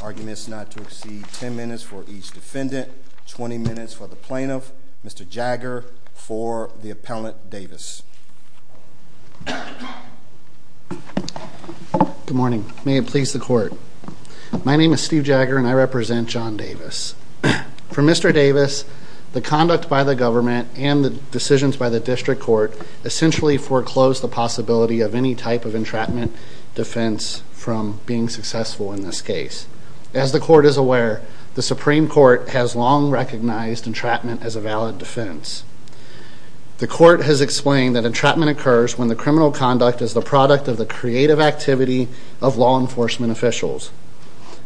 Arguments not to exceed 10 minutes for each defendant, 20 minutes for the plaintiff, Mr. Jagger for the appellant Davis. Good morning. May it please the court. My name is Steve Jagger. I'm the plaintiff's attorney. And I represent John Davis. For Mr. Davis, the conduct by the government and the decisions by the district court essentially foreclosed the possibility of any type of entrapment defense from being successful in this case. As the court is aware, the Supreme Court has long recognized entrapment as a valid defense. The court has explained that entrapment occurs when the criminal conduct is the product of the creative activity of law enforcement officials.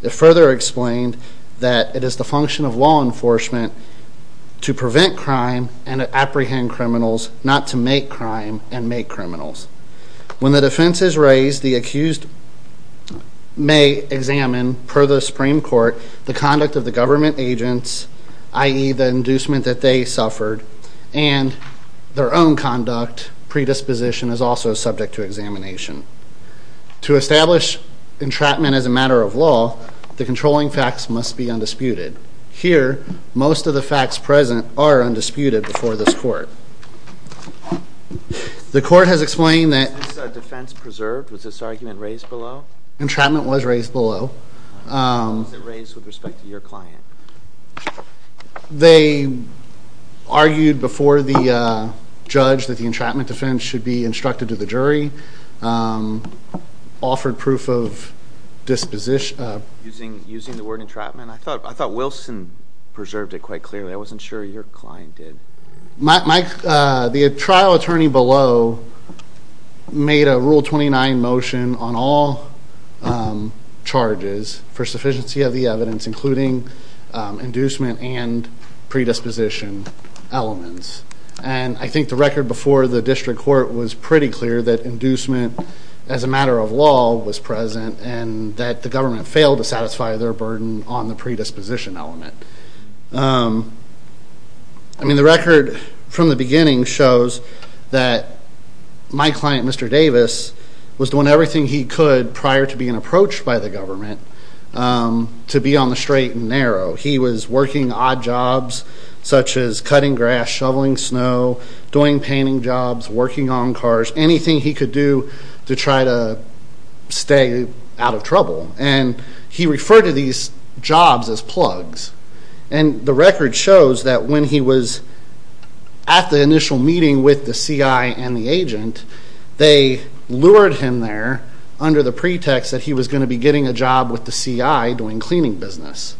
It further explained that it is the function of law enforcement to prevent crime and to apprehend criminals, not to make crime and make criminals. When the defense is raised, the accused may examine, per the Supreme Court, the conduct of the government agents, i.e. the inducement that they suffered, and their own conduct, predisposition, is also subject to examination. To establish entrapment as a matter of law, the controlling facts must be undisputed. Here, most of the facts present are undisputed before this court. The court has explained that... Was this defense preserved? Was this argument raised below? Entrapment was raised below. How was it raised with respect to your client? They argued before the judge that the entrapment defense should be instructed to the jury, offered proof of disposition... Using the word entrapment? I thought Wilson preserved it quite clearly. I wasn't sure your client did. The trial attorney below made a Rule 29 motion on all charges for sufficiency of the evidence, including inducement and predisposition elements. I think the record before the district court was pretty clear that inducement, as a matter of law, was present, and that the government failed to satisfy their burden on the predisposition element. The record from the beginning shows that my client, Mr. Davis, was doing everything he could, prior to being approached by the government, to be on the straight and narrow. He was working odd jobs, such as cutting grass, shoveling snow, doing painting jobs, working on cars, anything he could do to try to stay out of trouble. He referred to these jobs as plugs. The record shows that when he was at the initial meeting with the CI and the agent, they lured him there under the pretext that he was going to be getting a job with the CI doing cleaning business.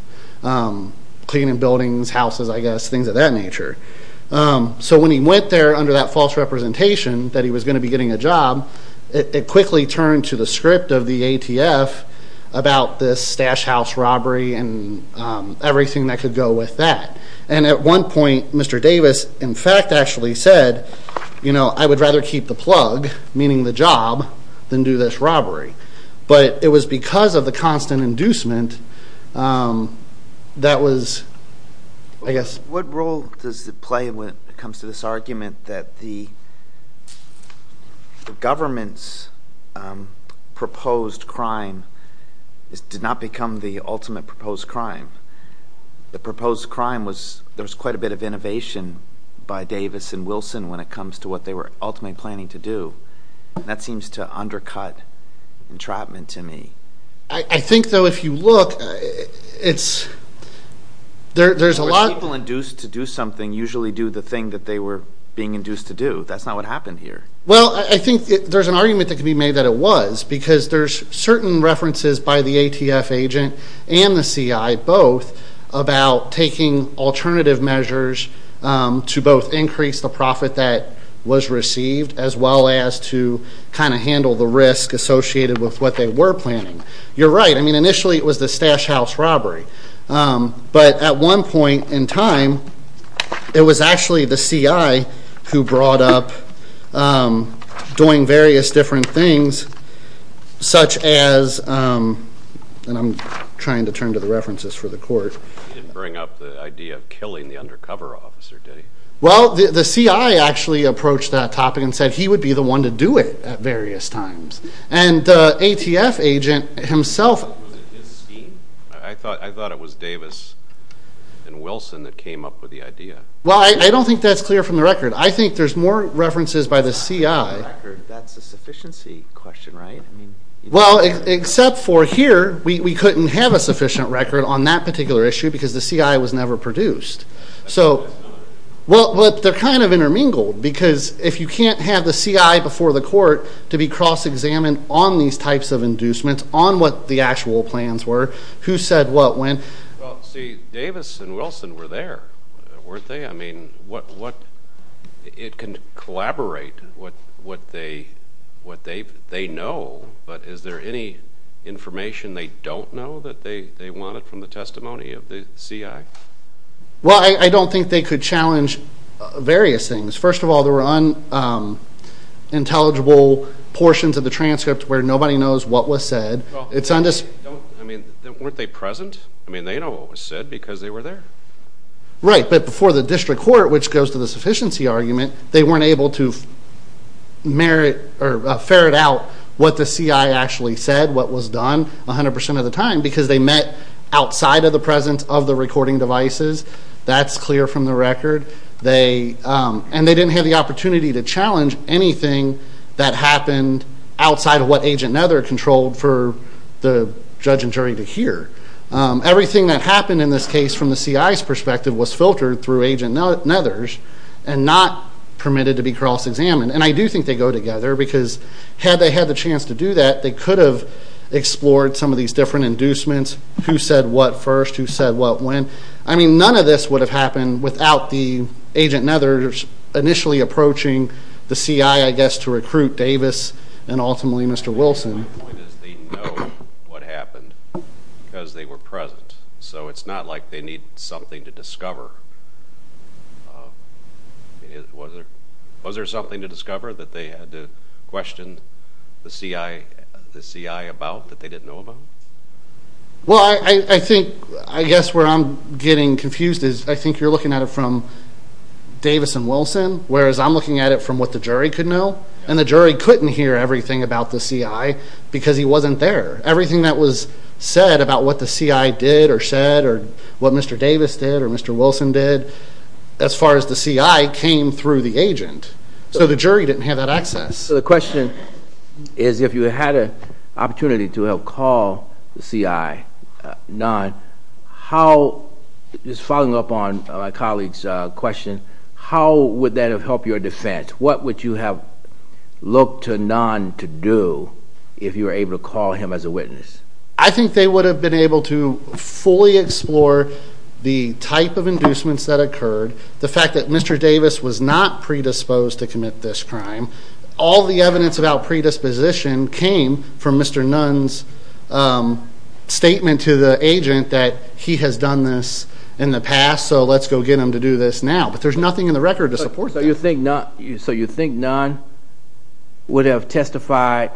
Cleaning buildings, houses, I guess, things of that nature. So when he went there under that false representation that he was going to be getting a job, it quickly turned to the script of the ATF about this stash house robbery and everything that could go with that. And at one point, Mr. Davis, in fact, actually said, you know, I would rather keep the plug, meaning the job, than do this robbery. But it was because of the constant inducement that was, I guess... What role does it play when it comes to this argument that the government's proposed crime did not become the ultimate proposed crime? The proposed crime was, there was quite a bit of innovation by Davis and Wilson when it comes to what they were ultimately planning to do. That seems to undercut entrapment to me. I think, though, if you look, there's a lot... But people induced to do something usually do the thing that they were being induced to do. That's not what happened here. Well, I think there's an argument that could be made that it was, because there's certain references by the ATF agent and the CI both about taking alternative measures to both increase the profit that was received, as well as to kind of handle the risk associated with what they were planning. You're right. I mean, initially it was the Stash House robbery. But at one point in time, it was actually the CI who brought up doing various different things, such as... And I'm trying to turn to the references for the court. He didn't bring up the idea of killing the undercover officer, did he? Well, the CI actually approached that topic and said he would be the one to do it at various times. And the ATF agent himself... Was it his scheme? I thought it was Davis and Wilson that came up with the idea. Well, I don't think that's clear from the record. I think there's more references by the CI. That's a sufficiency question, right? Well, except for here, we couldn't have a sufficient record on that particular issue because the CI was never produced. Well, they're kind of intermingled because if you can't have the CI before the court to be cross-examined on these types of inducements, on what the actual plans were, who said what when... Well, see, Davis and Wilson were there, weren't they? I mean, it can collaborate what they know, but is there any information they don't know that they wanted from the testimony of the CI? Well, I don't think they could challenge various things. First of all, there were unintelligible portions of the transcript where nobody knows what was said. I mean, weren't they present? I mean, they know what was said because they were there. Right, but before the district court, which goes to the sufficiency argument, they weren't able to merit or ferret out what the CI actually said, what was done, 100% of the time because they met outside of the presence of the recording devices. That's clear from the record. And they didn't have the opportunity to challenge anything that happened outside of what Agent Nether controlled for the judge and jury to hear. Everything that happened in this case from the CI's perspective was filtered through Agent Nether's and not permitted to be cross-examined. And I do think they go together because had they had the chance to do that, they could have explored some of these different inducements, who said what first, who said what when. I mean, none of this would have happened without the Agent Nethers initially approaching the CI, I guess, to recruit Davis and ultimately Mr. Wilson. My point is they know what happened because they were present. So it's not like they need something to discover. Was there something to discover that they had to question the CI about that they didn't know about? Well, I guess where I'm getting confused is I think you're looking at it from Davis and Wilson, whereas I'm looking at it from what the jury could know. And the jury couldn't hear everything about the CI because he wasn't there. Everything that was said about what the CI did or said or what Mr. Davis did or Mr. Wilson did, as far as the CI, came through the agent. So the jury didn't have that access. So the question is if you had an opportunity to help call the CI, non, how, just following up on my colleague's question, how would that have helped your defense? What would you have looked to non to do if you were able to call him as a witness? I think they would have been able to fully explore the type of inducements that occurred, the fact that Mr. Davis was not predisposed to commit this crime. All the evidence about predisposition came from Mr. Nunn's statement to the agent that he has done this in the past, so let's go get him to do this now. But there's nothing in the record to support that. So you think non would have testified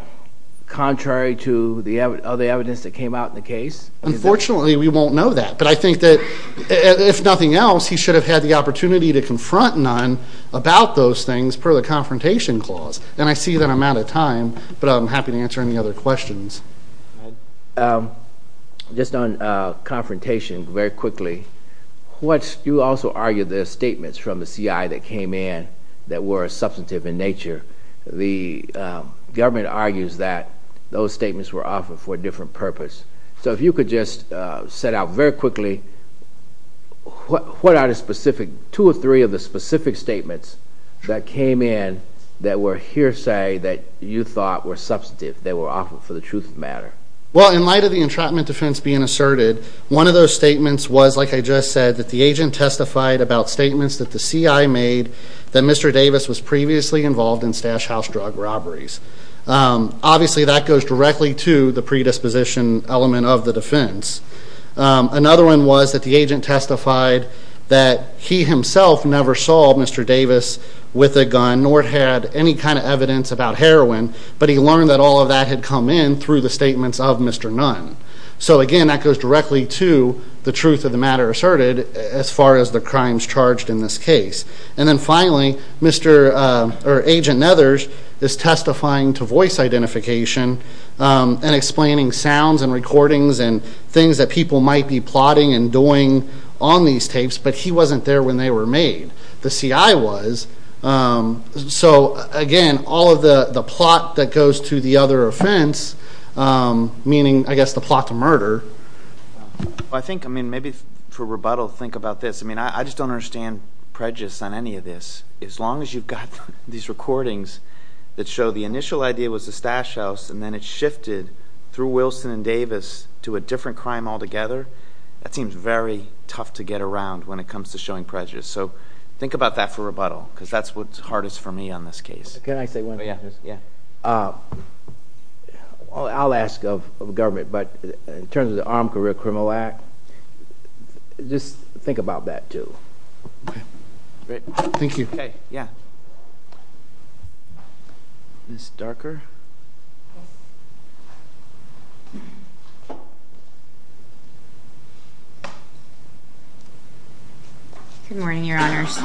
contrary to the other evidence that came out in the case? Unfortunately, we won't know that, but I think that if nothing else, he should have had the opportunity to confront non about those things per the confrontation clause. And I see that I'm out of time, but I'm happy to answer any other questions. Just on confrontation, very quickly, you also argued the statements from the CI that came in that were substantive in nature. The government argues that those statements were offered for a different purpose. So if you could just set out very quickly, what are the specific, two or three of the specific statements that came in that were hearsay that you thought were substantive, that were offered for the truth of the matter? Well, in light of the entrapment defense being asserted, one of those statements was, like I just said, that the agent testified about statements that the CI made that Mr. Davis was previously involved in stash house drug robberies. Obviously, that goes directly to the predisposition element of the defense. Another one was that the agent testified that he himself never saw Mr. Davis with a gun, nor had any kind of evidence about heroin, but he learned that all of that had come in through the statements of Mr. Nunn. So again, that goes directly to the truth of the matter asserted as far as the crimes charged in this case. And then finally, Agent Nethers is testifying to voice identification and explaining sounds and recordings and things that people might be plotting and doing on these tapes, but he wasn't there when they were made. The CI was. So again, all of the plot that goes to the other offense, meaning, I guess, the plot to murder. I think, I mean, maybe for rebuttal, think about this. I mean, I just don't understand prejudice on any of this. As long as you've got these recordings that show the initial idea was the stash house and then it shifted through Wilson and Davis to a different crime altogether, that seems very tough to get around when it comes to showing prejudice. So think about that for rebuttal because that's what's hardest for me on this case. Can I say one thing? Yeah. I'll ask of government, but in terms of the Armed Career Criminal Act, just think about that too. Great. Thank you. Okay. Yeah. Ms. Darker. Good morning, Your Honors.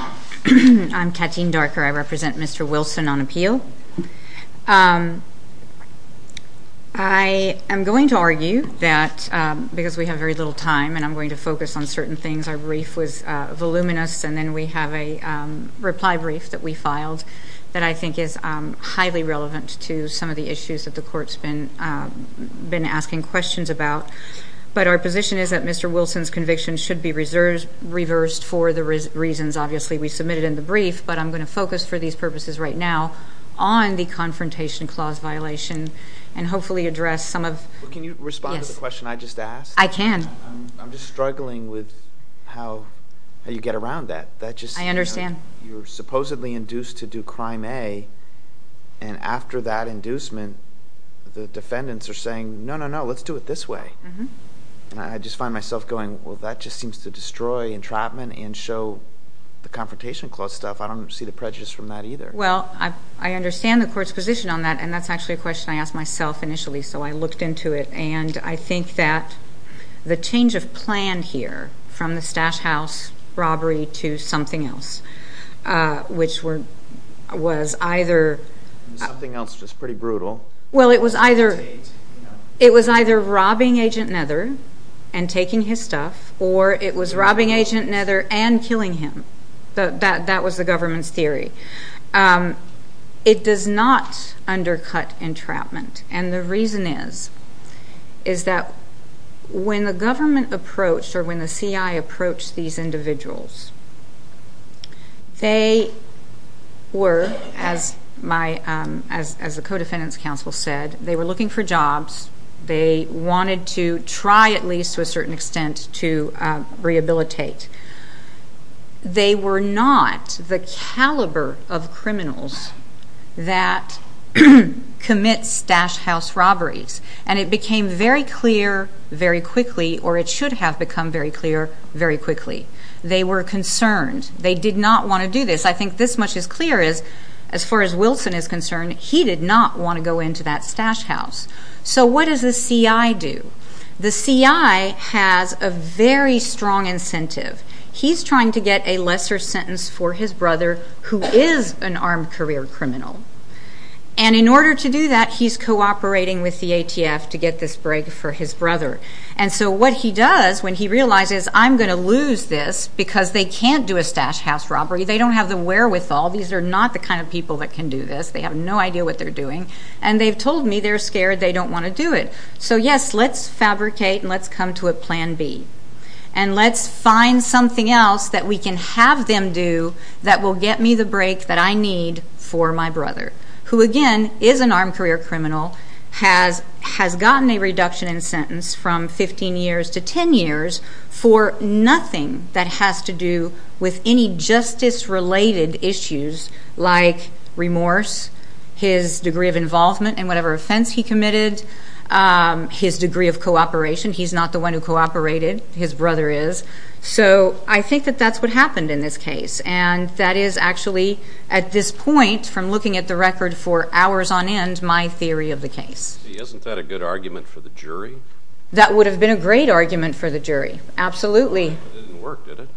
I'm Katine Darker. I represent Mr. Wilson on appeal. I am going to argue that because we have very little time and I'm going to focus on certain things, because our brief was voluminous and then we have a reply brief that we filed that I think is highly relevant to some of the issues that the Court's been asking questions about. But our position is that Mr. Wilson's conviction should be reversed for the reasons, obviously, we submitted in the brief, but I'm going to focus for these purposes right now on the Confrontation Clause violation and hopefully address some of it. Can you respond to the question I just asked? I can. I'm just struggling with how you get around that. I understand. You're supposedly induced to do Crime A, and after that inducement, the defendants are saying, no, no, no, let's do it this way. I just find myself going, well, that just seems to destroy entrapment and show the Confrontation Clause stuff. I don't see the prejudice from that either. Well, I understand the Court's position on that, and that's actually a question I asked myself initially, so I looked into it, and I think that the change of plan here from the Stash House robbery to something else, which was either robbing Agent Nether and taking his stuff, or it was robbing Agent Nether and killing him. It does not undercut entrapment, and the reason is that when the government approached or when the CI approached these individuals, they were, as the co-defendants council said, they were looking for jobs. They wanted to try, at least to a certain extent, to rehabilitate. They were not the caliber of criminals that commit Stash House robberies, and it became very clear very quickly, or it should have become very clear very quickly. They were concerned. They did not want to do this. I think this much is clear is, as far as Wilson is concerned, he did not want to go into that Stash House. So what does the CI do? The CI has a very strong incentive. He's trying to get a lesser sentence for his brother, who is an armed career criminal, and in order to do that, he's cooperating with the ATF to get this break for his brother. And so what he does when he realizes, I'm going to lose this because they can't do a Stash House robbery. They don't have the wherewithal. These are not the kind of people that can do this. They have no idea what they're doing, and they've told me they're scared. They don't want to do it. So, yes, let's fabricate and let's come to a plan B, and let's find something else that we can have them do that will get me the break that I need for my brother, who, again, is an armed career criminal, has gotten a reduction in sentence from 15 years to 10 years for nothing that has to do with any justice-related issues like remorse, his degree of involvement in whatever offense he committed, his degree of cooperation. He's not the one who cooperated. His brother is. So I think that that's what happened in this case, and that is actually at this point from looking at the record for hours on end my theory of the case. Isn't that a good argument for the jury? That would have been a great argument for the jury, absolutely. It didn't work, did it?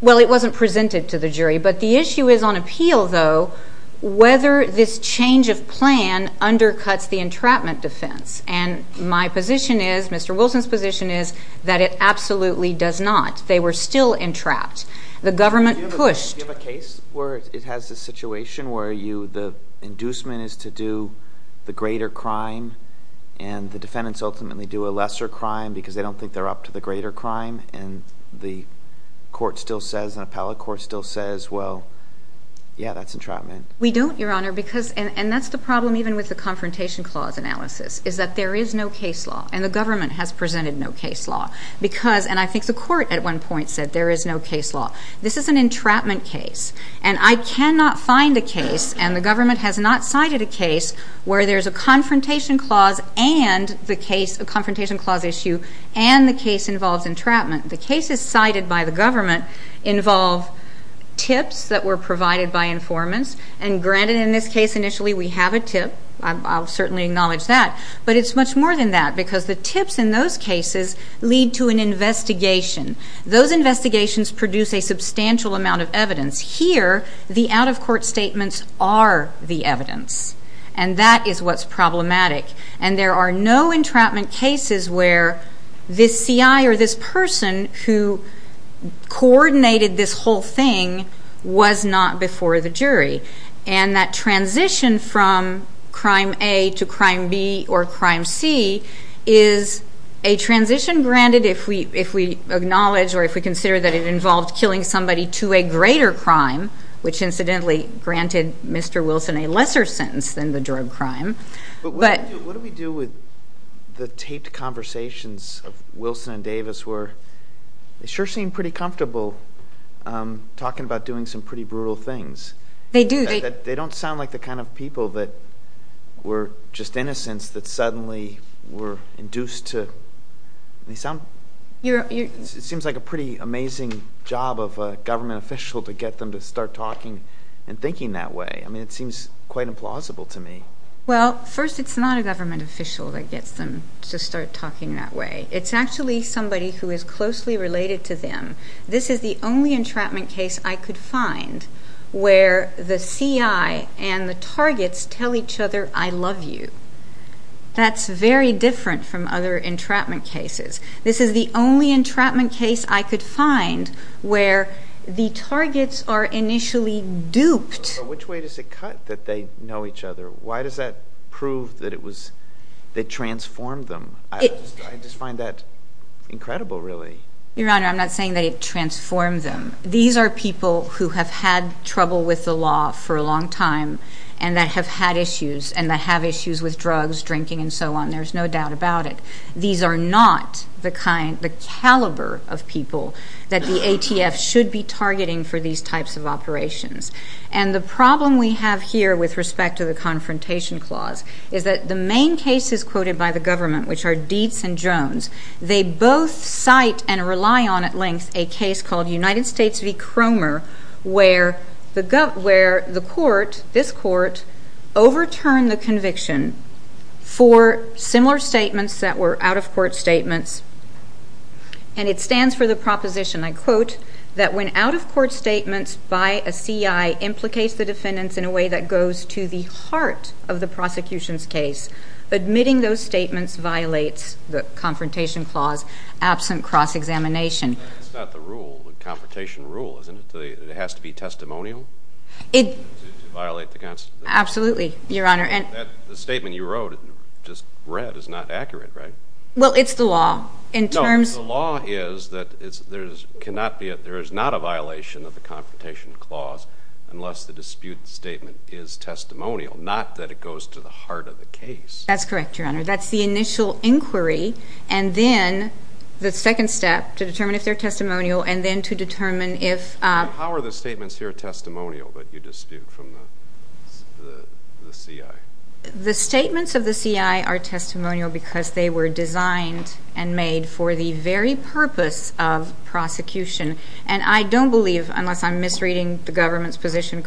Well, it wasn't presented to the jury, but the issue is on appeal, though, whether this change of plan undercuts the entrapment defense, and my position is, Mr. Wilson's position is, that it absolutely does not. They were still entrapped. The government pushed. Do you have a case where it has this situation where the inducement is to do the greater crime and the defendants ultimately do a lesser crime because they don't think they're up to the greater crime, and the court still says, the appellate court still says, well, yeah, that's entrapment? We don't, Your Honor, because, and that's the problem even with the confrontation clause analysis, is that there is no case law, and the government has presented no case law because, and I think the court at one point said there is no case law. This is an entrapment case, and I cannot find a case, and the government has not cited a case where there's a confrontation clause and the case, a confrontation clause issue and the case involves entrapment. The cases cited by the government involve tips that were provided by informants, and granted in this case initially we have a tip, I'll certainly acknowledge that, but it's much more than that because the tips in those cases lead to an investigation. Those investigations produce a substantial amount of evidence. Here, the out-of-court statements are the evidence, and that is what's problematic, and there are no entrapment cases where this CI or this person who coordinated this whole thing was not before the jury, and that transition from crime A to crime B or crime C is a transition granted if we acknowledge or if we consider that it involved killing somebody to a greater crime, which incidentally granted Mr. Wilson a lesser sentence than the drug crime. But what do we do with the taped conversations of Wilson and Davis? They sure seem pretty comfortable talking about doing some pretty brutal things. They do. They don't sound like the kind of people that were just innocents that suddenly were induced to... It seems like a pretty amazing job of a government official to get them to start talking and thinking that way. I mean, it seems quite implausible to me. Well, first, it's not a government official that gets them to start talking that way. It's actually somebody who is closely related to them. This is the only entrapment case I could find where the CI and the targets tell each other, I love you. That's very different from other entrapment cases. This is the only entrapment case I could find where the targets are initially duped. Which way does it cut that they know each other? Why does that prove that it transformed them? I just find that incredible, really. Your Honor, I'm not saying that it transformed them. These are people who have had trouble with the law for a long time and that have had issues and that have issues with drugs, drinking, and so on. There's no doubt about it. These are not the caliber of people that the ATF should be targeting for these types of operations. And the problem we have here with respect to the Confrontation Clause is that the main cases quoted by the government, which are Dietz and Jones, they both cite and rely on at length a case called United States v. Cromer where the court, this court, overturned the conviction for similar statements that were out-of-court statements. And it stands for the proposition, I quote, that when out-of-court statements by a CI implicates the defendants in a way that goes to the heart of the prosecution's case, admitting those statements violates the Confrontation Clause absent cross-examination. It's not the rule, the Confrontation Rule, isn't it? It has to be testimonial to violate the Constitution. Absolutely, Your Honor. The statement you wrote, just read, is not accurate, right? Well, it's the law. No, the law is that there is not a violation of the Confrontation Clause unless the dispute statement is testimonial, not that it goes to the heart of the case. That's correct, Your Honor. That's the initial inquiry. And then the second step to determine if they're testimonial and then to determine if... How are the statements here testimonial that you dispute from the CI? The statements of the CI are testimonial because they were designed and made for the very purpose of prosecution. And I don't believe, unless I'm misreading the government's position,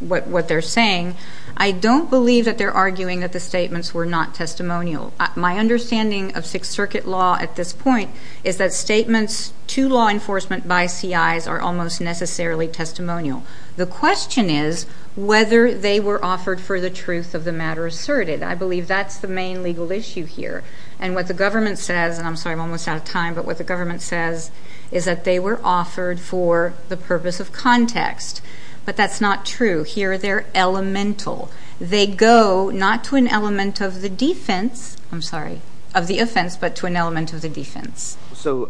what they're saying, I don't believe that they're arguing that the statements were not testimonial. My understanding of Sixth Circuit law at this point is that statements to law enforcement by CIs are almost necessarily testimonial. The question is whether they were offered for the truth of the matter asserted. I believe that's the main legal issue here. And what the government says, and I'm sorry, I'm almost out of time, but what the government says is that they were offered for the purpose of context. But that's not true. Here they're elemental. They go not to an element of the defense, I'm sorry, of the offense, but to an element of the defense. So,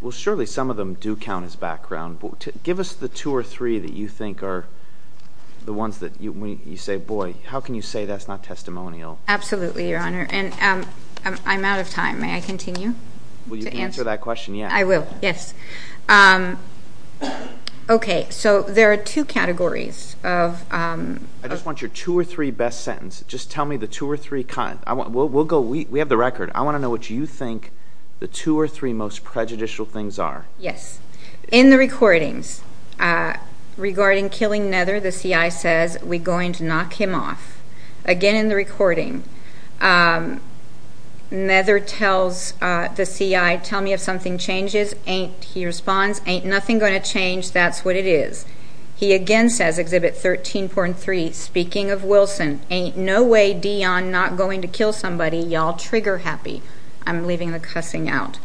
well, surely some of them do count as background. Give us the two or three that you think are the ones that you say, boy, how can you say that's not testimonial? Absolutely, Your Honor. And I'm out of time. May I continue? Will you answer that question? Yes. I will. Yes. Okay. So there are two categories. I just want your two or three best sentences. Just tell me the two or three. We have the record. I want to know what you think the two or three most prejudicial things are. Yes. In the recordings, regarding killing Nether, the CI says, we're going to knock him off. Again, in the recording, Nether tells the CI, tell me if something changes. He responds, ain't nothing going to change, that's what it is. He again says, Exhibit 13.3, speaking of Wilson, ain't no way Deon not going to kill somebody, y'all trigger happy. I'm leaving the cussing out.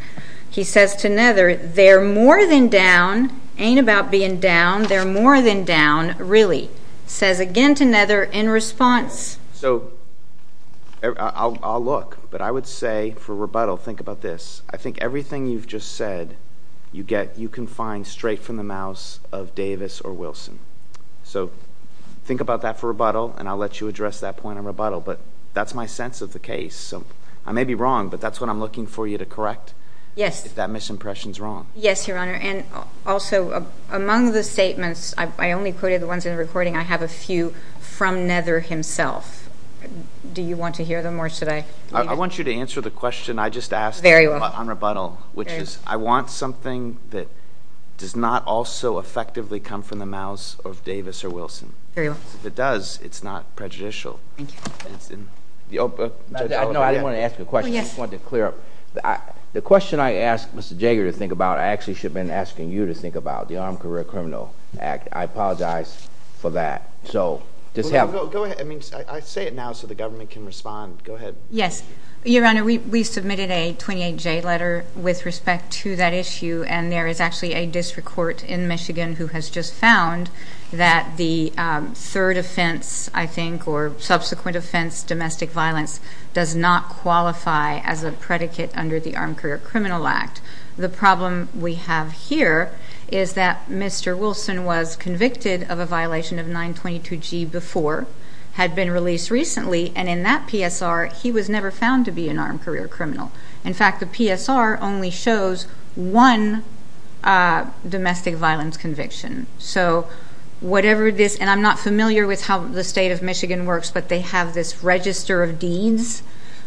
He says to Nether, they're more than down, ain't about being down, they're more than down, really. Says again to Nether in response. So I'll look, but I would say for rebuttal, think about this. I think everything you've just said you can find straight from the mouth of Davis or Wilson. So think about that for rebuttal, and I'll let you address that point in rebuttal. But that's my sense of the case. So I may be wrong, but that's what I'm looking for you to correct if that misimpression is wrong. Yes, Your Honor. And also, among the statements, I only quoted the ones in the recording. I have a few from Nether himself. Do you want to hear them, or should I leave it? I want you to answer the question I just asked on rebuttal, which is I want something that does not also effectively come from the mouth of Davis or Wilson. If it does, it's not prejudicial. No, I didn't want to ask a question. I just wanted to clear up. The question I asked Mr. Jager to think about I actually should have been asking you to think about, the Armed Career Criminals Act. I apologize for that. Go ahead. I say it now so the government can respond. Go ahead. Yes. Your Honor, we submitted a 28-J letter with respect to that issue, and there is actually a district court in Michigan who has just found that the third offense, I think, or subsequent offense, domestic violence, does not qualify as a predicate under the Armed Career Criminal Act. The problem we have here is that Mr. Wilson was convicted of a violation of 922G before, had been released recently, and in that PSR he was never found to be an armed career criminal. In fact, the PSR only shows one domestic violence conviction. And I'm not familiar with how the state of Michigan works, but they have this register of deeds,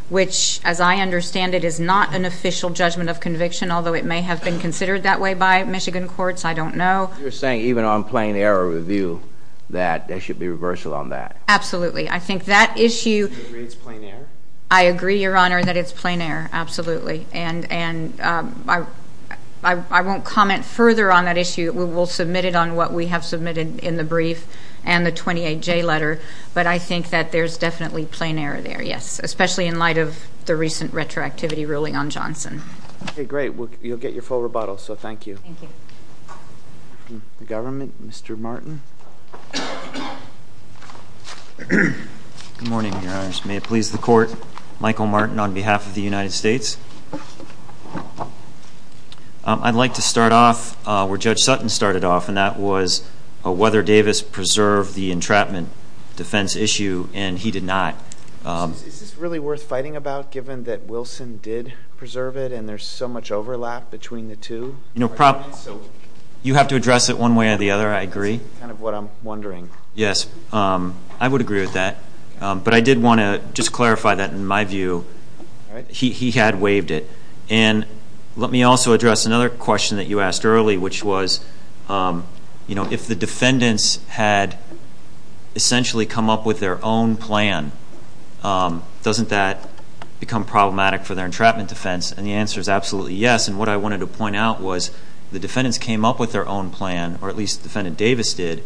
which as I understand it is not an official judgment of conviction, although it may have been considered that way by Michigan courts. I don't know. You're saying even on plain error review that there should be reversal on that? Absolutely. Do you agree it's plain error? I agree, Your Honor, that it's plain error. Absolutely. And I won't comment further on that issue. We'll submit it on what we have submitted in the brief and the 28J letter, but I think that there's definitely plain error there, yes, especially in light of the recent retroactivity ruling on Johnson. Okay, great. You'll get your full rebuttal, so thank you. Thank you. Government, Mr. Martin. Good morning, Your Honors. May it please the Court, Michael Martin on behalf of the United States. I'd like to start off where Judge Sutton started off, and that was whether Davis preserved the entrapment defense issue, and he did not. Is this really worth fighting about, given that Wilson did preserve it and there's so much overlap between the two? You have to address it one way or the other, I agree. That's kind of what I'm wondering. Yes, I would agree with that. But I did want to just clarify that, in my view, he had waived it. And let me also address another question that you asked early, which was if the defendants had essentially come up with their own plan, doesn't that become problematic for their entrapment defense? And the answer is absolutely yes. And what I wanted to point out was the defendants came up with their own plan, or at least Defendant Davis did,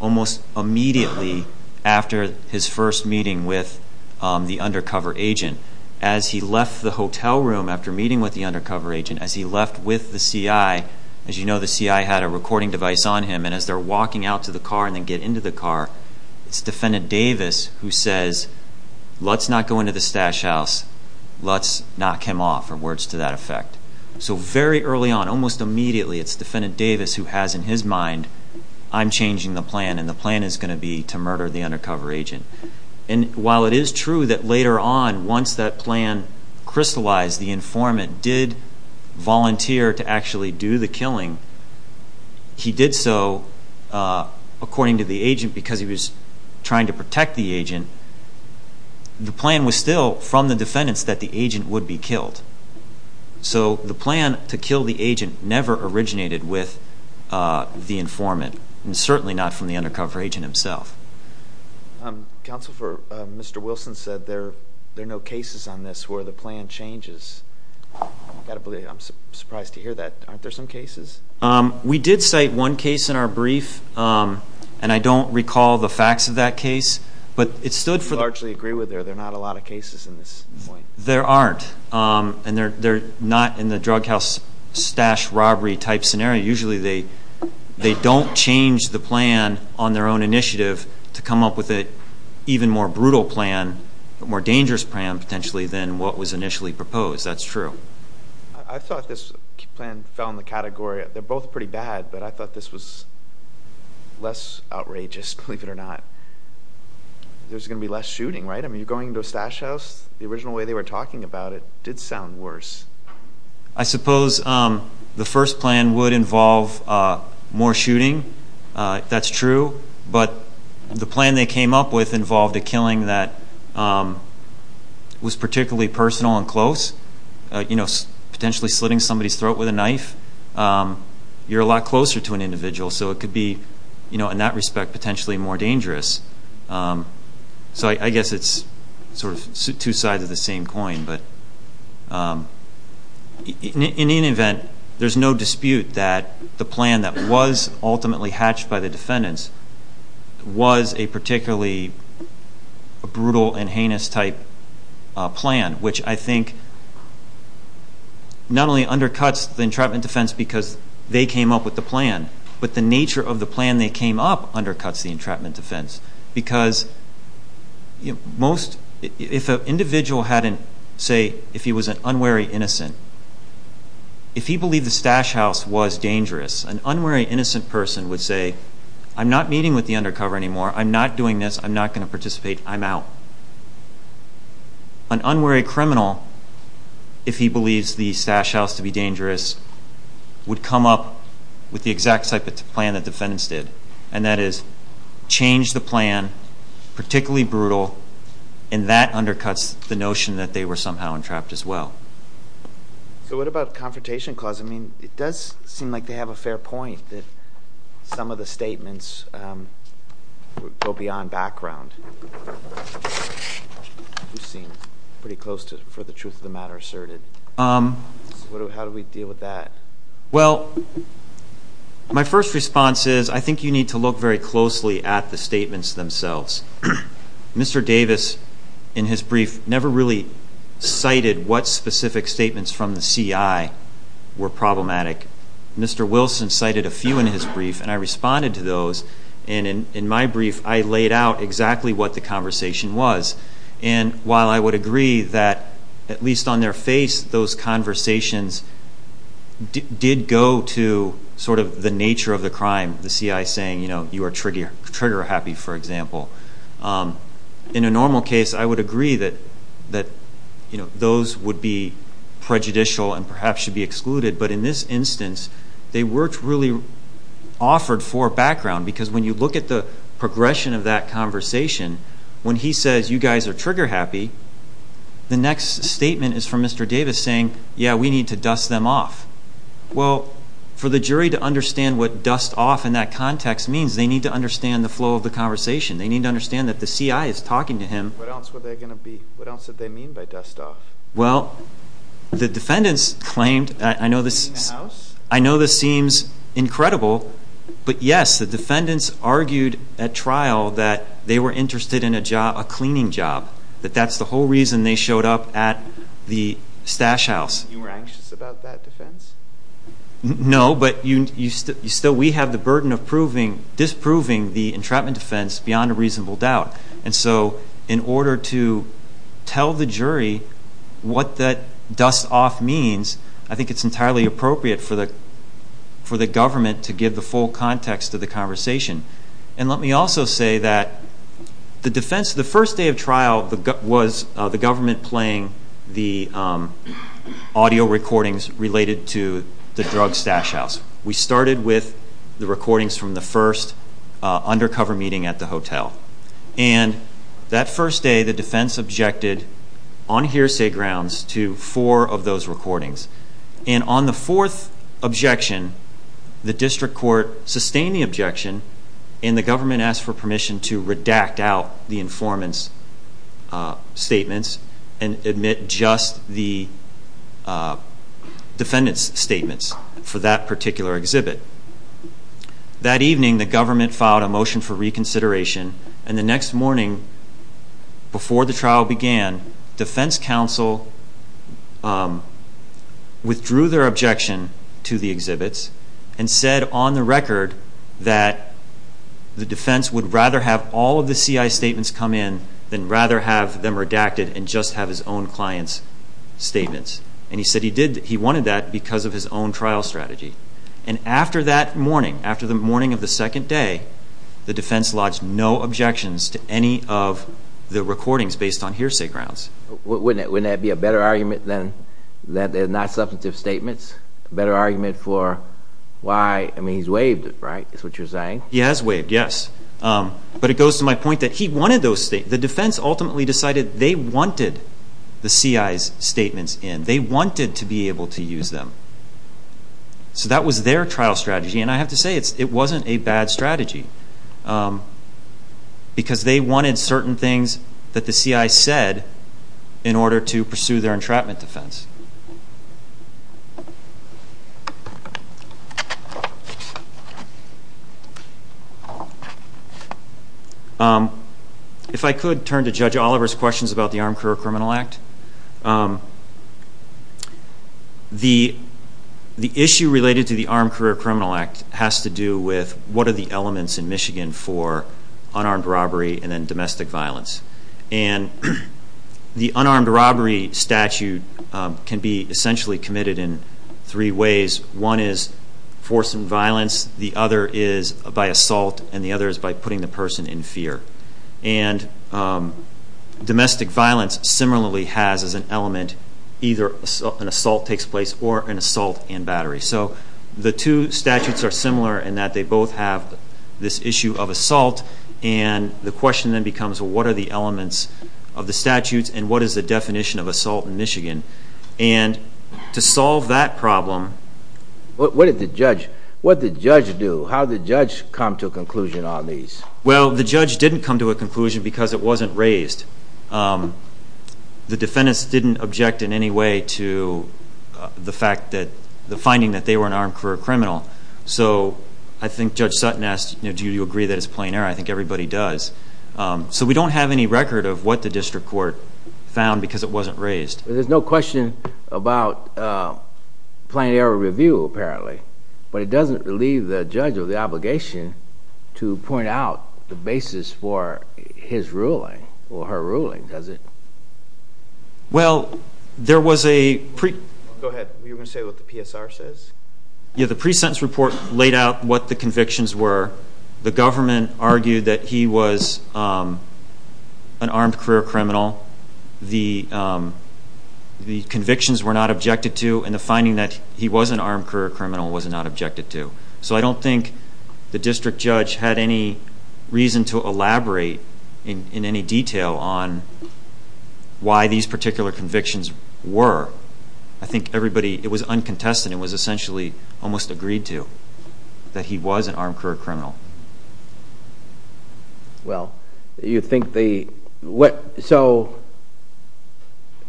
almost immediately after his first meeting with the undercover agent. As he left the hotel room after meeting with the undercover agent, as he left with the CI, as you know, the CI had a recording device on him, and as they're walking out to the car and then get into the car, it's Defendant Davis who says, let's not go into the stash house, let's knock him off, or words to that effect. So very early on, almost immediately, it's Defendant Davis who has in his mind, I'm changing the plan, and the plan is going to be to murder the undercover agent. And while it is true that later on, once that plan crystallized, the informant did volunteer to actually do the killing, he did so, according to the agent, because he was trying to protect the agent, the plan was still from the defendants that the agent would be killed. So the plan to kill the agent never originated with the informant, and certainly not from the undercover agent himself. Counsel for Mr. Wilson said there are no cases on this where the plan changes. I'm surprised to hear that. Aren't there some cases? We did cite one case in our brief, and I don't recall the facts of that case. I largely agree with you, there are not a lot of cases in this point. There aren't, and they're not in the drug house stash robbery type scenario. Usually they don't change the plan on their own initiative to come up with an even more brutal plan, a more dangerous plan potentially, than what was initially proposed. That's true. I thought this plan fell in the category, they're both pretty bad, but I thought this was less outrageous, believe it or not. There's going to be less shooting, right? When you're going into a stash house, the original way they were talking about it did sound worse. I suppose the first plan would involve more shooting, that's true, but the plan they came up with involved a killing that was particularly personal and close, potentially slitting somebody's throat with a knife. You're a lot closer to an individual, so it could be, in that respect, potentially more dangerous. I guess it's sort of two sides of the same coin, but in any event, there's no dispute that the plan that was ultimately hatched by the defendants was a particularly brutal and heinous type plan, which I think not only undercuts the entrapment defense because they came up with the plan, but the nature of the plan they came up undercuts the entrapment defense because if an individual hadn't, say, if he was an unwary innocent, if he believed the stash house was dangerous, an unwary innocent person would say, I'm not meeting with the undercover anymore, I'm not doing this, I'm not going to participate, I'm out. An unwary criminal, if he believes the stash house to be dangerous, would come up with the exact type of plan that defendants did, and that is change the plan, particularly brutal, and that undercuts the notion that they were somehow entrapped as well. So what about the Confrontation Clause? I mean, it does seem like they have a fair point that some of the statements go beyond background. You seem pretty close to, for the truth of the matter, asserted. So how do we deal with that? Well, my first response is I think you need to look very closely at the statements themselves. Mr. Davis, in his brief, never really cited what specific statements from the CI were problematic. Mr. Wilson cited a few in his brief, and I responded to those, and in my brief I laid out exactly what the conversation was. And while I would agree that, at least on their face, those conversations did go to sort of the nature of the crime, the CI saying, you know, you are trigger happy, for example, in a normal case I would agree that those would be prejudicial and perhaps should be excluded, but in this instance they weren't really offered for background, because when you look at the progression of that conversation, when he says you guys are trigger happy, the next statement is from Mr. Davis saying, yeah, we need to dust them off. Well, for the jury to understand what dust off in that context means, they need to understand the flow of the conversation. They need to understand that the CI is talking to him. What else were they going to be, what else did they mean by dust off? Well, the defendants claimed, I know this seems incredible, but yes, the defendants argued at trial that they were interested in a cleaning job, that that's the whole reason they showed up at the stash house. You were anxious about that defense? No, but you still, we have the burden of disproving the entrapment defense beyond a reasonable doubt. And so in order to tell the jury what that dust off means, I think it's entirely appropriate for the government to give the full context of the conversation. And let me also say that the defense, the first day of trial, was the government playing the audio recordings related to the drug stash house. We started with the recordings from the first undercover meeting at the hotel. And that first day, the defense objected on hearsay grounds to four of those recordings. And on the fourth objection, the district court sustained the objection, and the government asked for permission to redact out the informant's statements and admit just the defendant's statements for that particular exhibit. That evening, the government filed a motion for reconsideration, and the next morning before the trial began, defense counsel withdrew their objection to the exhibits and said on the record that the defense would rather have all of the CI statements come in than rather have them redacted and just have his own client's statements. And he said he wanted that because of his own trial strategy. And after that morning, after the morning of the second day, the defense lodged no objections to any of the recordings based on hearsay grounds. Wouldn't that be a better argument than that they're not substantive statements? A better argument for why, I mean, he's waived it, right, is what you're saying? He has waived, yes. But it goes to my point that he wanted those statements. The defense ultimately decided they wanted the CI's statements in. They wanted to be able to use them. So that was their trial strategy, and I have to say it wasn't a bad strategy because they wanted certain things that the CI said in order to pursue their entrapment defense. If I could turn to Judge Oliver's questions about the Armed Career Criminal Act. The issue related to the Armed Career Criminal Act has to do with what are the elements in Michigan for unarmed robbery and then domestic violence. And the unarmed robbery statute can be essentially committed in three ways. One is force and violence. The other is by assault, and the other is by putting the person in fear. And domestic violence similarly has as an element either an assault takes place or an assault and battery. So the two statutes are similar in that they both have this issue of assault, and the question then becomes what are the elements of the statutes and what is the definition of assault in Michigan. And to solve that problem... What did the judge do? How did the judge come to a conclusion on these? Well, the judge didn't come to a conclusion because it wasn't raised. The defendants didn't object in any way to the finding that they were an armed career criminal. So I think Judge Sutton asked, do you agree that it's a plain error? I think everybody does. So we don't have any record of what the district court found because it wasn't raised. There's no question about plain error review apparently, but it doesn't leave the judge of the obligation to point out the basis for his ruling or her ruling, does it? Well, there was a pre... Go ahead. You were going to say what the PSR says? Yeah, the pre-sentence report laid out what the convictions were. The government argued that he was an armed career criminal. The convictions were not objected to, and the finding that he was an armed career criminal was not objected to. So I don't think the district judge had any reason to elaborate in any detail on why these particular convictions were. I think everybody, it was uncontested, it was essentially almost agreed to that he was an armed career criminal. Well, you think the... So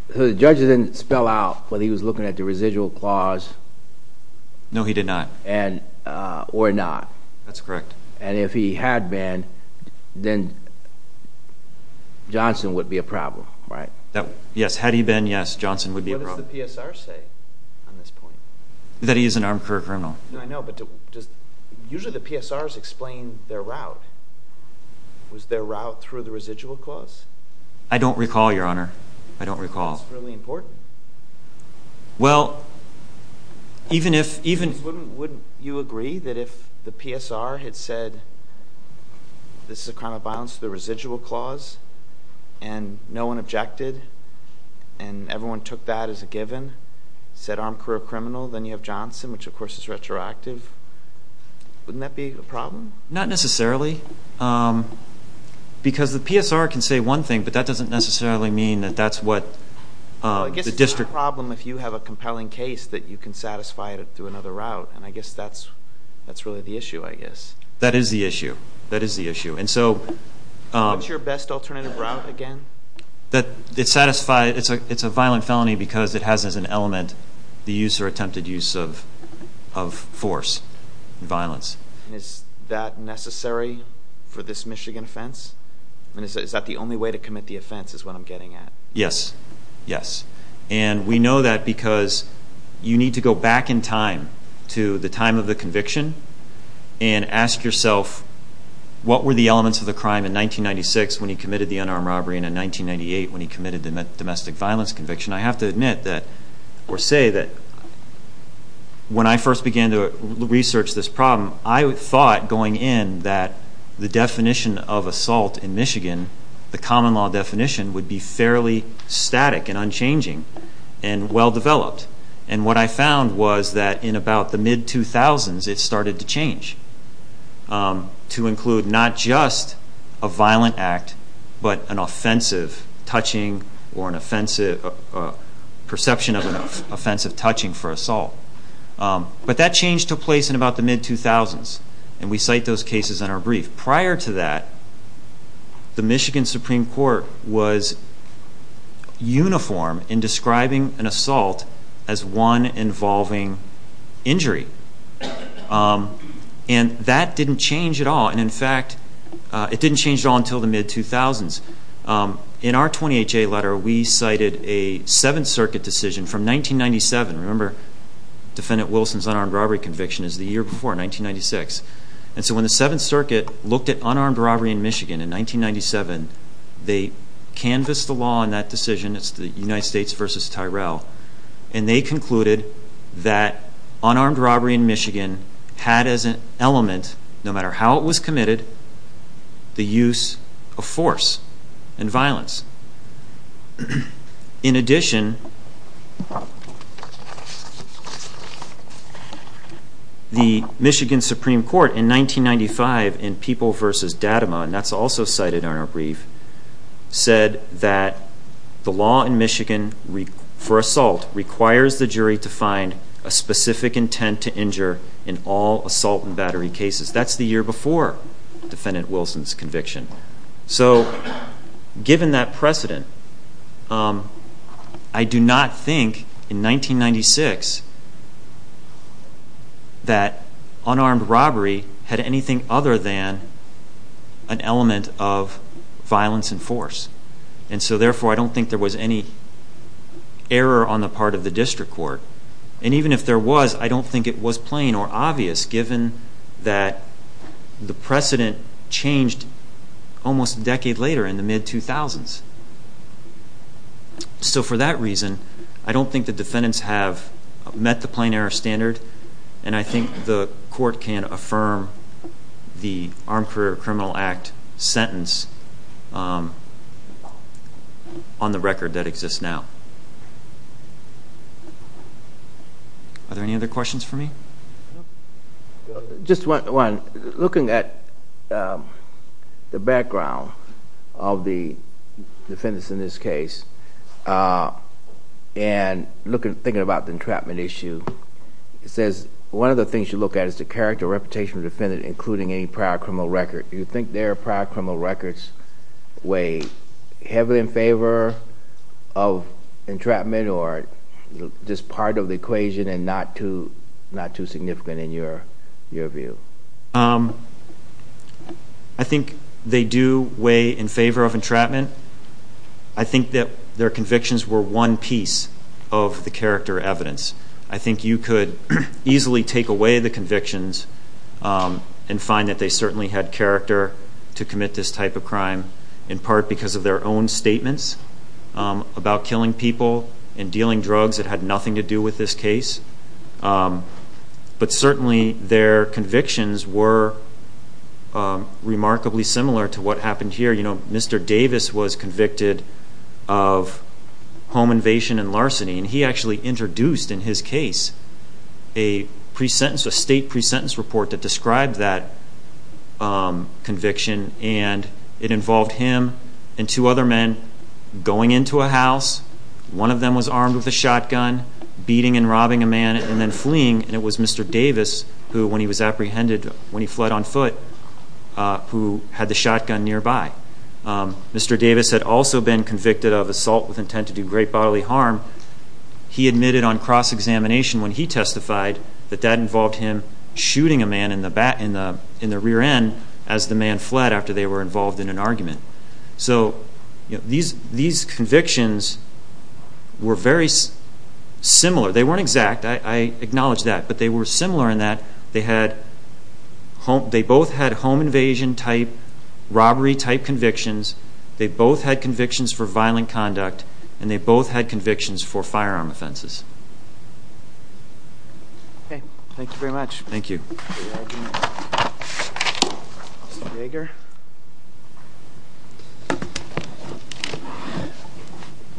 the judge didn't spell out whether he was looking at the residual clause... No, he did not. Or not. That's correct. And if he had been, then Johnson would be a problem, right? Yes, had he been, yes, Johnson would be a problem. What does the PSR say on this point? That he is an armed career criminal. No, I know, but does... Usually the PSRs explain their route. Was their route through the residual clause? I don't recall, Your Honor. I don't recall. That's really important. Well, even if... Wouldn't you agree that if the PSR had said this is a crime of violence through the residual clause and no one objected and everyone took that as a given, said armed career criminal, then you have Johnson, which of course is retroactive, wouldn't that be a problem? Not necessarily. Because the PSR can say one thing, but that doesn't necessarily mean that that's what the district... Well, I guess it's not a problem if you have a compelling case that you can satisfy it through another route, and I guess that's really the issue, I guess. That is the issue. That is the issue. What's your best alternative route again? It's a violent felony because it has as an element the use or attempted use of force and violence. Is that necessary for this Michigan offense? Is that the only way to commit the offense is what I'm getting at? Yes. Yes. And we know that because you need to go back in time to the time of the conviction and ask yourself what were the elements of the crime in 1996 when he committed the unarmed robbery and in 1998 when he committed the domestic violence conviction? I have to admit that or say that when I first began to research this problem, I thought going in that the definition of assault in Michigan, the common law definition, would be fairly static and unchanging and well-developed. And what I found was that in about the mid-2000s, it started to change to include not just a violent act but an offensive touching or an offensive perception of an offensive touching for assault. But that change took place in about the mid-2000s and we cite those cases in our brief. Prior to that, the Michigan Supreme Court was uniform in describing an assault as one involving injury. And that didn't change at all. And in fact, it didn't change at all until the mid-2000s. In our 28-J letter, we cited a Seventh Circuit decision from 1997. Remember, Defendant Wilson's unarmed robbery conviction is the year before, 1996. And so when the Seventh Circuit looked at unarmed robbery in Michigan in 1997, they canvassed the law on that decision. It's the United States v. Tyrell. And they concluded that unarmed robbery in Michigan had as an element, no matter how it was committed, the use of force and violence. In addition, the Michigan Supreme Court in 1995 in People v. Dadema, and that's also cited in our brief, said that the law in Michigan for assault requires the jury to find a specific intent to injure in all assault and battery cases. That's the year before Defendant Wilson's conviction. So given that precedent, I do not think in 1996 that unarmed robbery had anything other than an element of violence and force. And so therefore, I don't think there was any error on the part of the district court. And even if there was, I don't think it was plain or obvious given that the precedent changed almost a decade later in the mid-2000s. So for that reason, I don't think the defendants have met the plain error standard, and I think the court can affirm the Armed Career Criminal Act sentence on the record that exists now. Are there any other questions for me? Just one. Looking at the background of the defendants in this case and thinking about the entrapment issue, it says one of the things you look at is the character or reputation of the defendant, including any prior criminal record. Do you think their prior criminal records weigh heavily in favor of entrapment or just part of the equation and not too significant in your view? I think they do weigh in favor of entrapment. I think that their convictions were one piece of the character evidence. I think you could easily take away the convictions and find that they certainly had character to commit this type of crime, in part because of their own statements about killing people and dealing drugs that had nothing to do with this case. But certainly their convictions were remarkably similar to what happened here. Mr. Davis was convicted of home invasion and larceny, and he actually introduced in his case a state pre-sentence report that described that conviction, and it involved him and two other men going into a house. One of them was armed with a shotgun, beating and robbing a man and then fleeing, and it was Mr. Davis who, when he was apprehended, when he fled on foot, who had the shotgun nearby. Mr. Davis had also been convicted of assault with intent to do great bodily harm. He admitted on cross-examination when he testified that that involved him shooting a man in the rear end as the man fled after they were involved in an argument. So these convictions were very similar. They weren't exact, I acknowledge that, but they were similar in that they both had home invasion-type, robbery-type convictions, they both had convictions for violent conduct, and they both had convictions for firearm offenses. Okay. Thank you very much. Thank you. Mr. Yeager?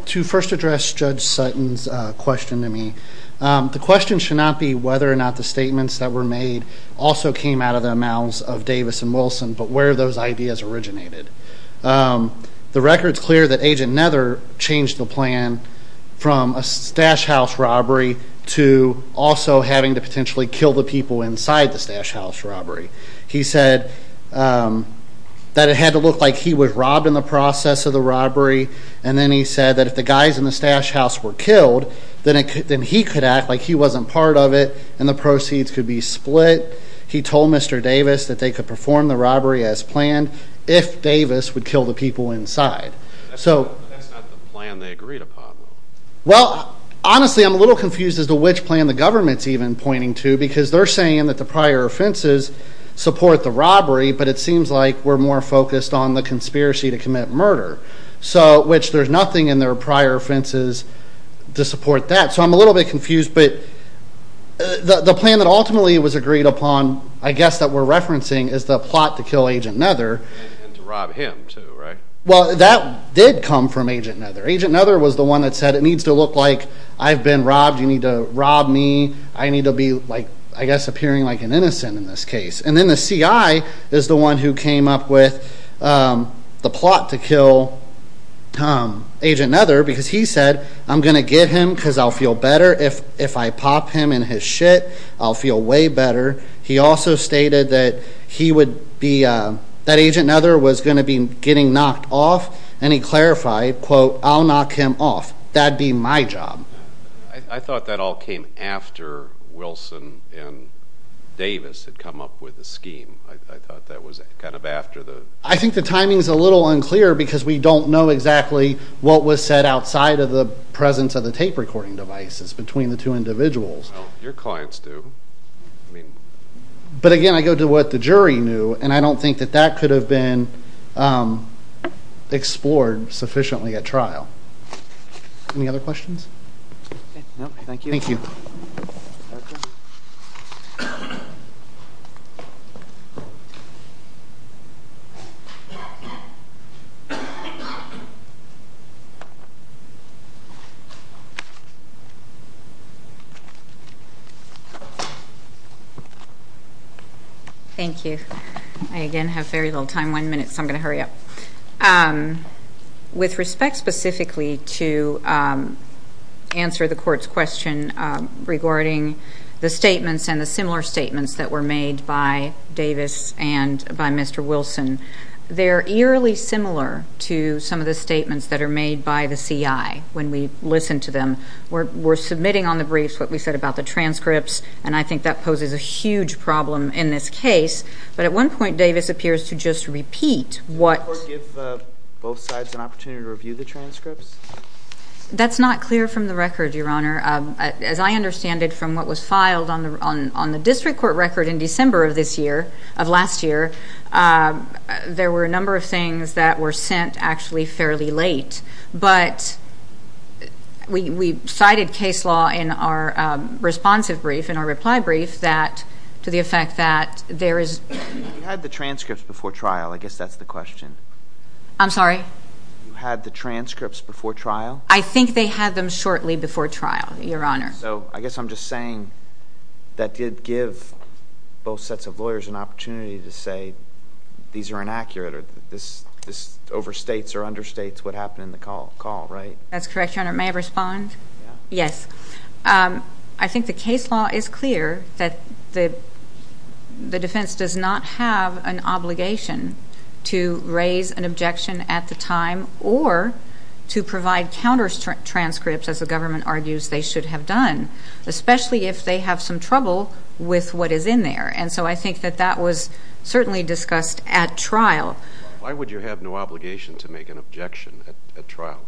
To first address Judge Sutton's question to me, the question should not be whether or not the statements that were made also came out of the mouths of Davis and Wilson, but where those ideas originated. The record's clear that Agent Nether changed the plan from a stash house robbery to also having to potentially kill the people inside the stash house robbery. He said that it had to look like he was robbed in the process of the robbery, and then he said that if the guys in the stash house were killed, then he could act like he wasn't part of it, and the proceeds could be split. He told Mr. Davis that they could perform the robbery as planned if Davis would kill the people inside. But that's not the plan they agreed upon. Well, honestly, I'm a little confused as to which plan the government's even pointing to, because they're saying that the prior offenses support the robbery, but it seems like we're more focused on the conspiracy to commit murder, which there's nothing in their prior offenses to support that. So I'm a little bit confused, but the plan that ultimately was agreed upon, I guess that we're referencing, is the plot to kill Agent Nether. And to rob him, too, right? Well, that did come from Agent Nether. Agent Nether was the one that said it needs to look like I've been robbed, you need to rob me, I need to be, I guess, appearing like an innocent in this case. And then the CI is the one who came up with the plot to kill Agent Nether, because he said, I'm going to get him because I'll feel better if I pop him in his shit. I'll feel way better. He also stated that he would be, that Agent Nether was going to be getting knocked off, and he clarified, quote, I'll knock him off. That'd be my job. I thought that all came after Wilson and Davis had come up with the scheme. I thought that was kind of after the... I think the timing is a little unclear because we don't know exactly what was said outside of the presence of the tape recording devices between the two individuals. No, your clients do. But again, I go to what the jury knew, and I don't think that that could have been explored sufficiently at trial. Any other questions? No, thank you. Thank you. Thank you. I, again, have very little time, one minute, so I'm going to hurry up. With respect specifically to answer the court's question regarding the statements and the similar statements that were made by Davis and by Mr. Wilson, they are eerily similar to some of the statements that are made by the CI when we listen to them. We're submitting on the briefs what we said about the transcripts, and I think that poses a huge problem in this case. But at one point, Davis appears to just repeat what... Did the court give both sides an opportunity to review the transcripts? That's not clear from the record, Your Honor. As I understand it from what was filed on the district court record in December of this year, of last year, there were a number of things that were sent actually fairly late. But we cited case law in our responsive brief, in our reply brief, to the effect that there is... You had the transcripts before trial. I guess that's the question. I'm sorry? You had the transcripts before trial? I think they had them shortly before trial, Your Honor. So I guess I'm just saying that did give both sets of lawyers an opportunity to say these are inaccurate or this overstates or understates what happened in the call, right? That's correct, Your Honor. May I respond? Yes. I think the case law is clear that the defense does not have an obligation to raise an objection at the time or to provide counter transcripts, as the government argues they should have done, especially if they have some trouble with what is in there. And so I think that that was certainly discussed at trial. Why would you have no obligation to make an objection at trial?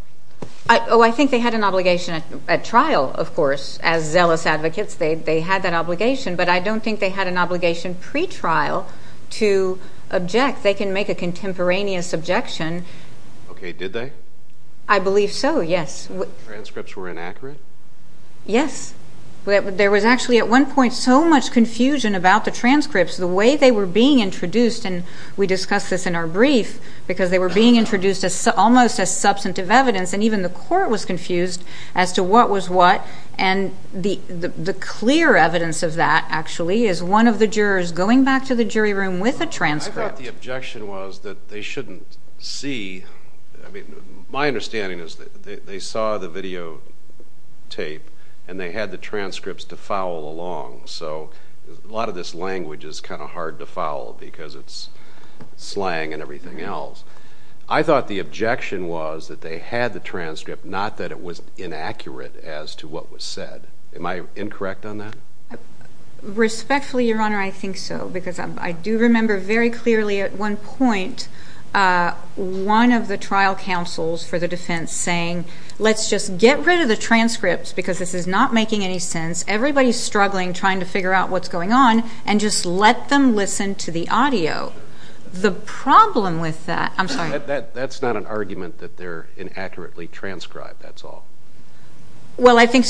Oh, I think they had an obligation at trial, of course, as zealous advocates. They had that obligation. But I don't think they had an obligation pretrial to object. They can make a contemporaneous objection. Okay. Did they? I believe so, yes. Transcripts were inaccurate? Yes. There was actually at one point so much confusion about the transcripts, the way they were being introduced, and we discussed this in our brief, because they were being introduced almost as substantive evidence, and even the court was confused as to what was what. And the clear evidence of that, actually, is one of the jurors going back to the jury room with a transcript. I thought the objection was that they shouldn't see. I mean, my understanding is that they saw the videotape, and they had the transcripts to foul along. So a lot of this language is kind of hard to foul because it's slang and everything else. I thought the objection was that they had the transcript, not that it was inaccurate as to what was said. Am I incorrect on that? Respectfully, Your Honor, I think so, because I do remember very clearly at one point one of the trial counsels for the defense saying, let's just get rid of the transcripts because this is not making any sense. Everybody's struggling trying to figure out what's going on, and just let them listen to the audio. The problem with that, I'm sorry. That's not an argument that they're inaccurately transcribed, that's all. Well, I think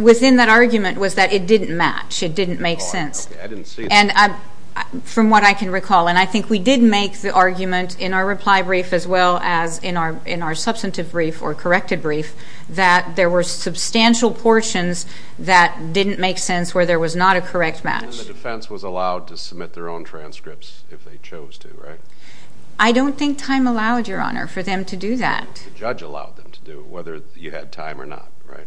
within that argument was that it didn't match. It didn't make sense. Okay, I didn't see that. And from what I can recall, and I think we did make the argument in our reply brief as well as in our substantive brief or corrected brief, that there were substantial portions that didn't make sense where there was not a correct match. And the defense was allowed to submit their own transcripts if they chose to, right? I don't think time allowed, Your Honor, for them to do that. The judge allowed them to do it, whether you had time or not, right?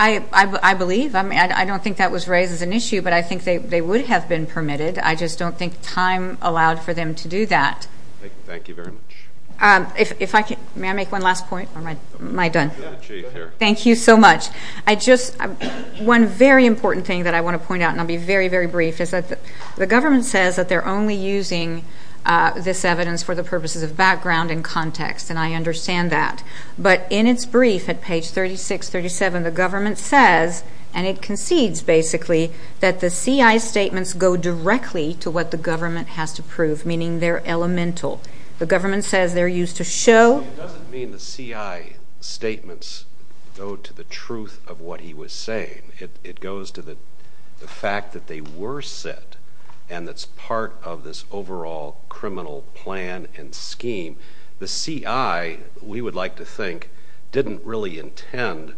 I believe. I don't think that was raised as an issue, but I think they would have been permitted. I just don't think time allowed for them to do that. Thank you very much. May I make one last point, or am I done? Thank you so much. One very important thing that I want to point out, and I'll be very, very brief, is that the government says that they're only using this evidence for the purposes of background and context, and I understand that. But in its brief at page 36, 37, the government says, and it concedes basically, that the CI's statements go directly to what the government has to prove, meaning they're elemental. The government says they're used to show. It doesn't mean the CI statements go to the truth of what he was saying. It goes to the fact that they were set, and that's part of this overall criminal plan and scheme. The CI, we would like to think, didn't really intend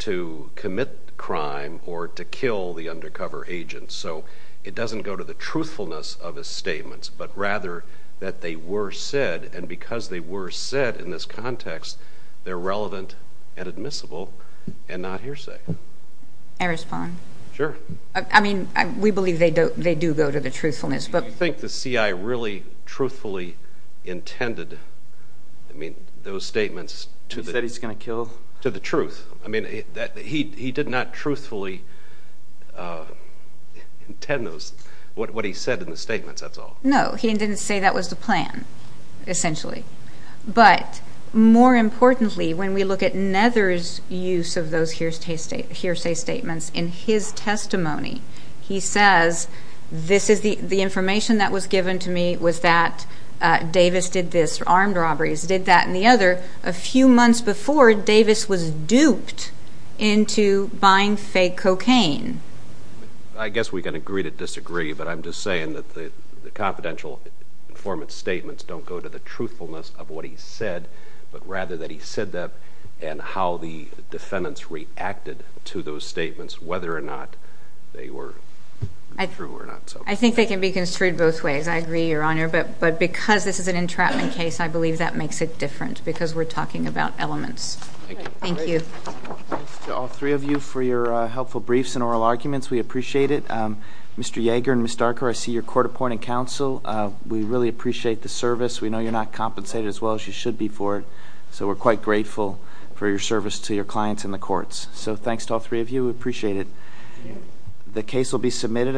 to commit crime or to kill the undercover agent, so it doesn't go to the truthfulness of his statements, but rather that they were said, and because they were said in this context, they're relevant and admissible and not hearsay. May I respond? Sure. I mean, we believe they do go to the truthfulness. Do you think the CI really truthfully intended those statements to the truth? He did not truthfully intend what he said in the statements, that's all. No, he didn't say that was the plan, essentially. But more importantly, when we look at Nether's use of those hearsay statements in his testimony, he says, this is the information that was given to me was that Davis did this, armed robberies, did that and the other. A few months before, Davis was duped into buying fake cocaine. I guess we can agree to disagree, but I'm just saying that the confidential informant's statements don't go to the truthfulness of what he said, but rather that he said that and how the defendants reacted to those statements, whether or not they were true or not. I think they can be construed both ways. I agree, Your Honor, but because this is an entrapment case, I believe that makes it different because we're talking about elements. Thank you. Thanks to all three of you for your helpful briefs and oral arguments. We appreciate it. Mr. Yeager and Ms. Darker, I see you're court-appointed counsel. We really appreciate the service. We know you're not compensated as well as you should be for it, so we're quite grateful for your service to your clients in the courts. We appreciate it. The case will be submitted.